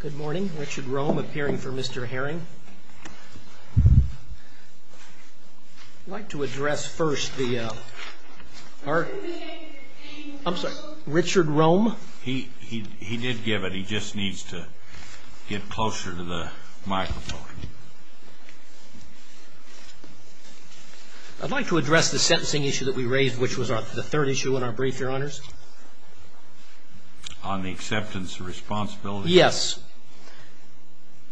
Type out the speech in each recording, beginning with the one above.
Good morning, Richard Rome appearing for Mr. Herring. I'd like to address first the, uh, our, I'm sorry, Richard Rome. He, he, he did give it, he just needs to get closer to the microphone. I'd like to address the sentencing issue that we raised, which was our, the third issue in our brief, your honors. On the acceptance of responsibility? Yes.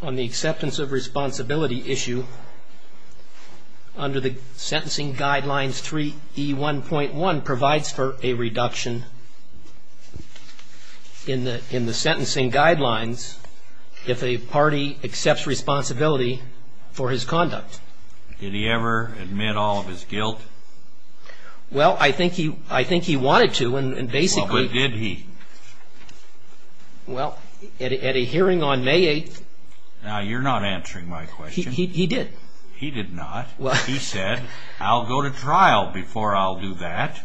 On the acceptance of responsibility issue under the sentencing guidelines 3E1.1 provides for a reduction in the, in the sentencing guidelines if a party accepts responsibility for his conduct. Did he ever admit all of his guilt? Well, I think he, I think he wanted to and, and basically. Well, but did he? Well, at a hearing on May 8th. Now, you're not answering my question. He, he, he did. He did not. He said, I'll go to trial before I'll do that.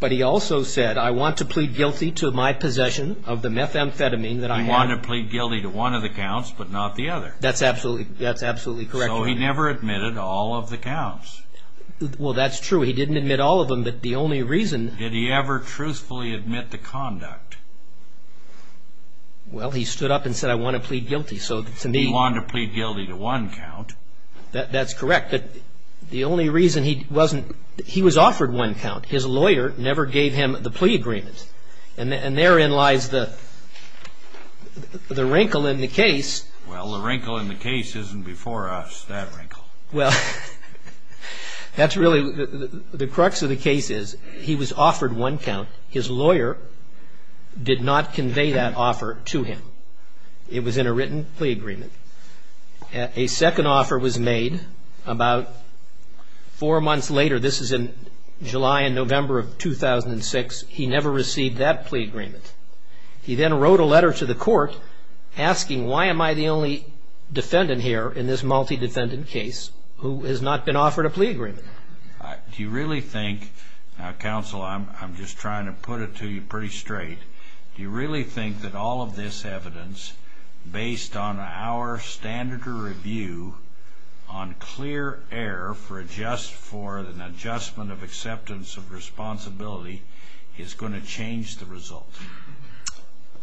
But he also said, I want to plead guilty to my possession of the methamphetamine that I had. He wanted to plead guilty to one of the counts, but not the other. That's absolutely, that's absolutely correct. So he never admitted all of the counts. Well, that's true. He didn't admit all of them, but the only reason. Did he ever truthfully admit the conduct? Well, he stood up and said, I want to plead guilty. So to me. He wanted to plead guilty to one count. That's correct, but the only reason he wasn't, he was offered one count. His lawyer never gave him the plea agreement. And therein lies the, the wrinkle in the case. Well, the wrinkle in the case isn't before us, that wrinkle. Well, that's really the crux of the case is he was offered one count. His lawyer did not convey that offer to him. It was in a written plea agreement. A second offer was made about four months later. This is in July and November of 2006. He never received that plea agreement. He then wrote a letter to the court asking, why am I the only defendant here in this multi-defendant case who has not been offered a plea agreement? Do you really think, now counsel, I'm, I'm just trying to put it to you pretty straight. Do you really think that all of this evidence, based on our standard of review, on clear air for just for an adjustment of acceptance of responsibility, is going to change the result?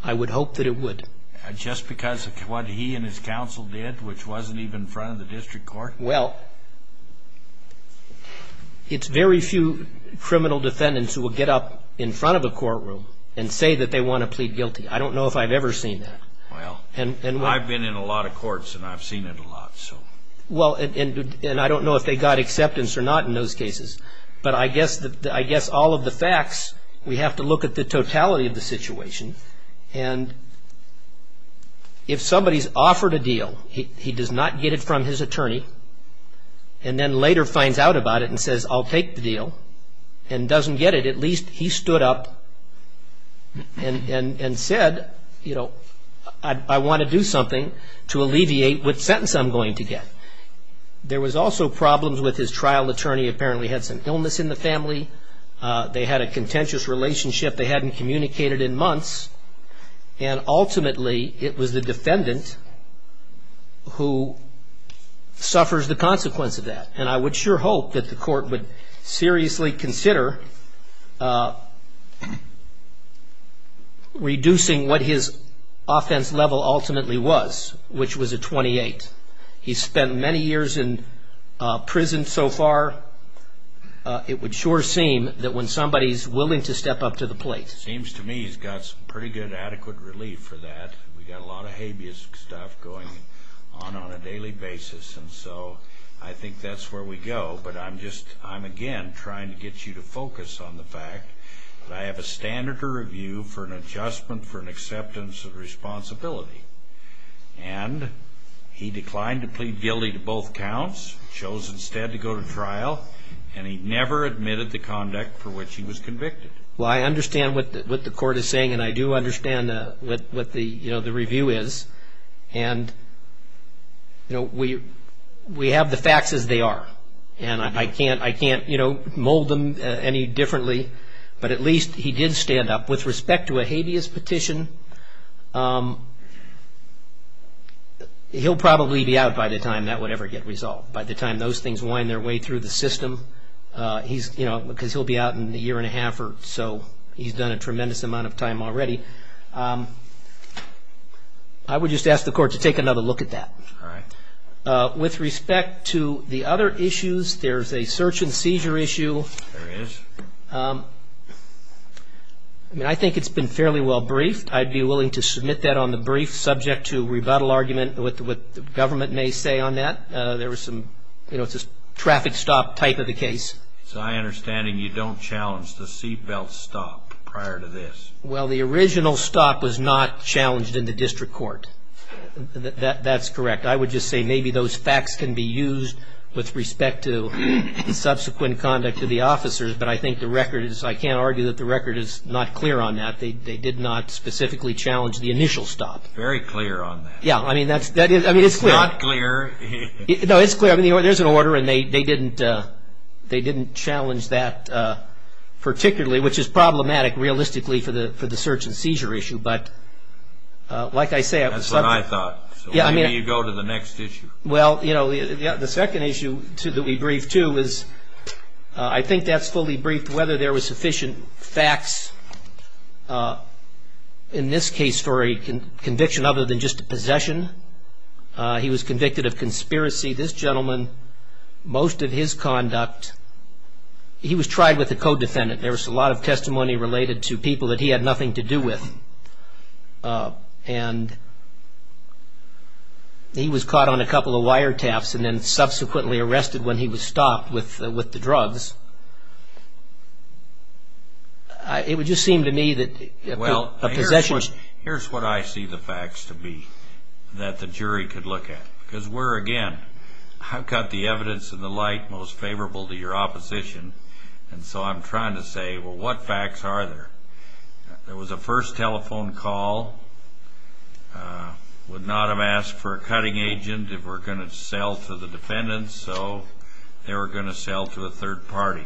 I would hope that it would. Just because of what he and his counsel did, which wasn't even in front of the district court? Well, it's very few criminal defendants who will get up in front of a courtroom and say that they want to plead guilty. I don't know if I've ever seen that. Well, I've been in a lot of courts and I've seen it a lot, so. Well, and I don't know if they got acceptance or not in those cases. But I guess, I guess all of the facts, we have to look at the totality of the situation. And if somebody's offered a deal, he, he does not get it from his attorney, and then later finds out about it and says, I'll take the deal, and doesn't get it, at least he stood up and, and, and said, you know, I, I want to do something to alleviate which sentence I'm going to get. There was also problems with his trial attorney. Apparently, he had some illness in the family. They had a contentious relationship. They hadn't communicated in months. And ultimately, it was the defendant who suffers the consequence of that. And I would sure hope that the court would seriously consider reducing what his offense level ultimately was, which was a defendant many years in prison so far. It would sure seem that when somebody's willing to step up to the plate. Seems to me he's got some pretty good adequate relief for that. We got a lot of habeas stuff going on on a daily basis. And so I think that's where we go. But I'm just, I'm again trying to get you to focus on the fact that I have a standard to review for an adjustment for an acceptance of responsibility. And he declined to plead guilty to both counts. Chose instead to go to trial. And he never admitted the conduct for which he was convicted. Well, I understand what, what the court is saying. And I do understand what, what the, you know, the review is. And, you know, we, we have the facts as they are. And I can't, I can't, you know, mold them any differently. But at least he did stand up. With respect to a habeas petition, he'll probably be out by the time that would ever get resolved. By the time those things wind their way through the system. He's, you know, because he'll be out in a year and a half or so. He's done a tremendous amount of time already. I would just ask the court to take another look at that. All right. With respect to the other issues, there's a search and seizure issue. There is. I mean, I think it's been fairly well briefed. I'd be willing to submit that on the brief subject to rebuttal argument with what the government may say on that. There was some, you know, it's a traffic stop type of a case. It's my understanding you don't challenge the seat belt stop prior to this. Well, the original stop was not challenged in the district court. That, that's correct. I would just say maybe those facts can be used with respect to subsequent conduct of the officers, but I think the record is, I can't argue that the record is not clear on that. They, they did not specifically challenge the initial stop. Very clear on that. Yeah, I mean, that's, that is, I mean, it's clear. It's not clear. No, it's clear. I mean, there's an order and they, they didn't, they didn't challenge that particularly, which is problematic, realistically, for the, for the search and seizure issue. But like I say, I was That's what I thought. Yeah, I mean So maybe you go to the next issue. Well, you know, the second issue that we briefed to is, I think that's fully briefed, whether there was sufficient facts, in this case, for a conviction other than just a possession. He was convicted of conspiracy. This gentleman, most of his conduct, he was tried with a co-defendant. There was a lot of testimony related to people that he had nothing to do with. And he was caught on a couple of wiretaps and then subsequently arrested when he was stopped with, with the drugs. It would just seem to me that Well, here's what I see the facts to be, that the jury could look at. Because we're, again, I've got the evidence and the light most favorable to your opposition. And so I'm trying to say, well, what facts are there? There was a first telephone call. Would not have asked for a cutting agent if we're going to sell to the defendants. So they were going to sell to a third party.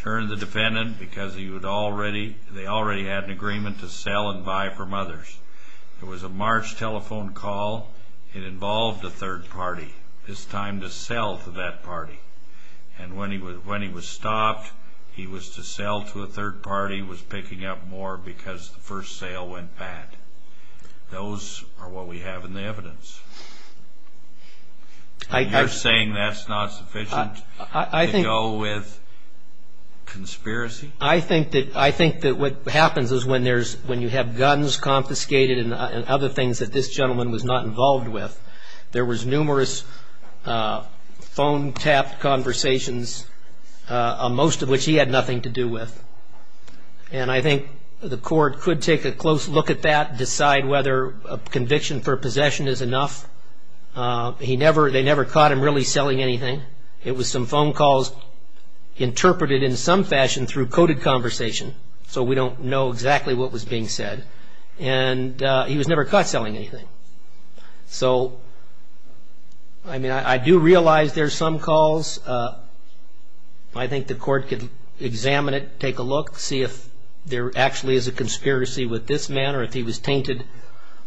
Turned the defendant because he would already, they already had an agreement to sell and buy from others. There was a March telephone call. It involved a third party. This time to sell to that party. And when he was stopped, he was to sell to a third party, was picking up more because the first sale went bad. Those are what we have in the evidence. You're saying that's not sufficient to go with conspiracy? I think that, I think that what happens is when there's, when you have guns confiscated and other things that this gentleman was not involved with. There was numerous phone tap conversations, most of which he had nothing to do with. And I think the court could take a close look at that, decide whether a conviction for possession is enough. He never, they never caught him really selling anything. It was some phone calls interpreted in some fashion through coded conversation. So we don't know exactly what was being said. And he was never caught selling anything. So, I mean, I do realize there's some calls. I think the court could examine it, take a look, see if there actually is a conspiracy with this man or if he was tainted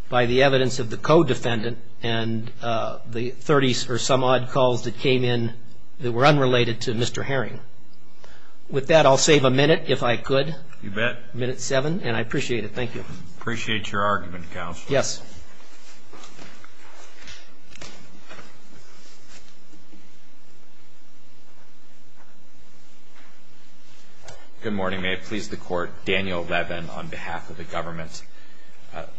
by the evidence of the co-defendant. And the 30 or some odd calls that came in that were unrelated to Mr. Herring. With that, I'll save a minute if I could. You bet. Minute seven, and I appreciate it. Thank you. Appreciate your argument, counsel. Yes. Good morning. May it please the court. Daniel Levin on behalf of the government.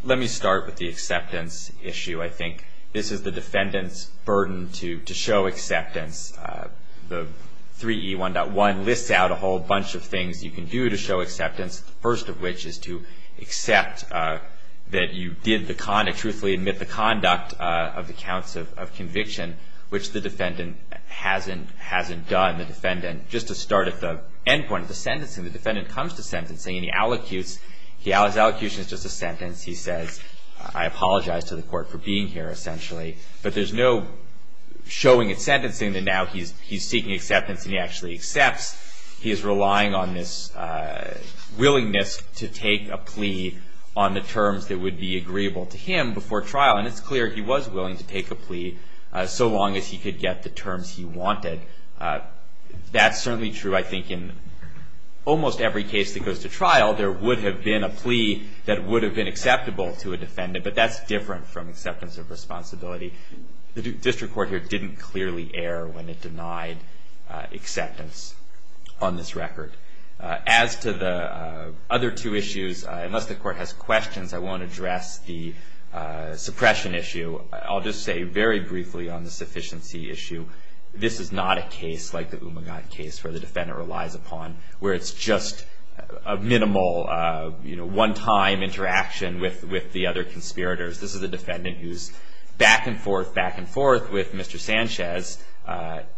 Let me start with the acceptance issue. I think this is the defendant's burden to show acceptance. The 3E1.1 lists out a whole bunch of things you can do to show acceptance. The first of which is to accept that you did truthfully admit the conduct of the counts of conviction, which the defendant hasn't done. Just to start at the end point of the sentencing, the defendant comes to sentencing and he allocutes. His allocution is just a sentence. He says, I apologize to the court for being here, essentially. But there's no showing in sentencing that now he's seeking acceptance and he actually accepts. He is relying on this willingness to take a plea on the terms that would be agreeable to him before trial. And it's clear he was willing to take a plea so long as he could get the terms he wanted. That's certainly true, I think, in almost every case that goes to trial. There would have been a plea that would have been acceptable to a defendant. But that's different from acceptance of responsibility. The district court here didn't clearly err when it denied acceptance on this record. As to the other two issues, unless the court has questions, I won't address the suppression issue. I'll just say very briefly on the sufficiency issue, this is not a case like the Umagant case where the defendant relies upon, where it's just a minimal one-time interaction with the other conspirators. This is a defendant who's back and forth, back and forth with Mr. Sanchez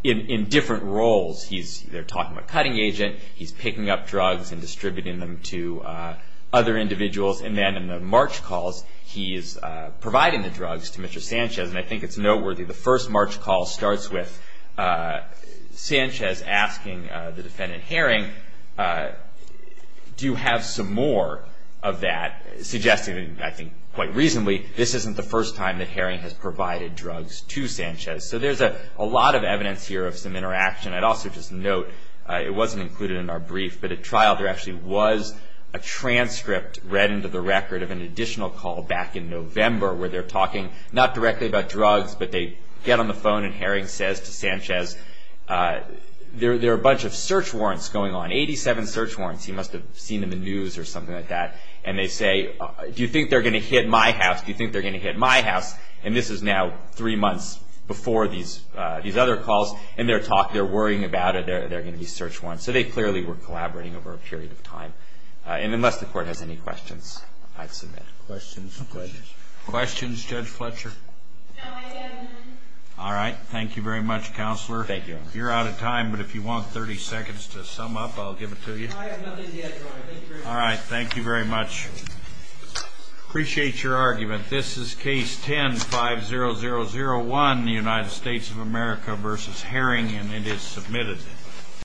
in different roles. They're talking about cutting agent. He's picking up drugs and distributing them to other individuals. And then in the march calls, he is providing the drugs to Mr. Sanchez. And I think it's noteworthy, the first march call starts with Sanchez asking the defendant Herring, do you have some more of that? Suggesting, I think quite reasonably, this isn't the first time that Herring has provided drugs to Sanchez. So there's a lot of evidence here of some interaction. I'd also just note, it wasn't included in our brief, but at trial there actually was a transcript read into the record of an additional call back in November where they're talking, not directly about drugs, but they get on the phone and Herring says to Sanchez, there are a bunch of search warrants going on. Eighty-seven search warrants. He must have seen in the news or something like that. And they say, do you think they're going to hit my house? Do you think they're going to hit my house? And this is now three months before these other calls. And they're worrying about it. There are going to be search warrants. So they clearly were collaborating over a period of time. And unless the court has any questions, I'd submit. Questions. Questions. Questions. Questions. Judge Fletcher. No, I have none. All right. Thank you very much, Counselor. Thank you. You're out of time, but if you want 30 seconds to sum up, I'll give it to you. No, I have nothing yet, Your Honor. Thank you very much. All right. Thank you very much. Appreciate your argument. This is Case 10-50001, the United States of America v. Herring, and it is submitted.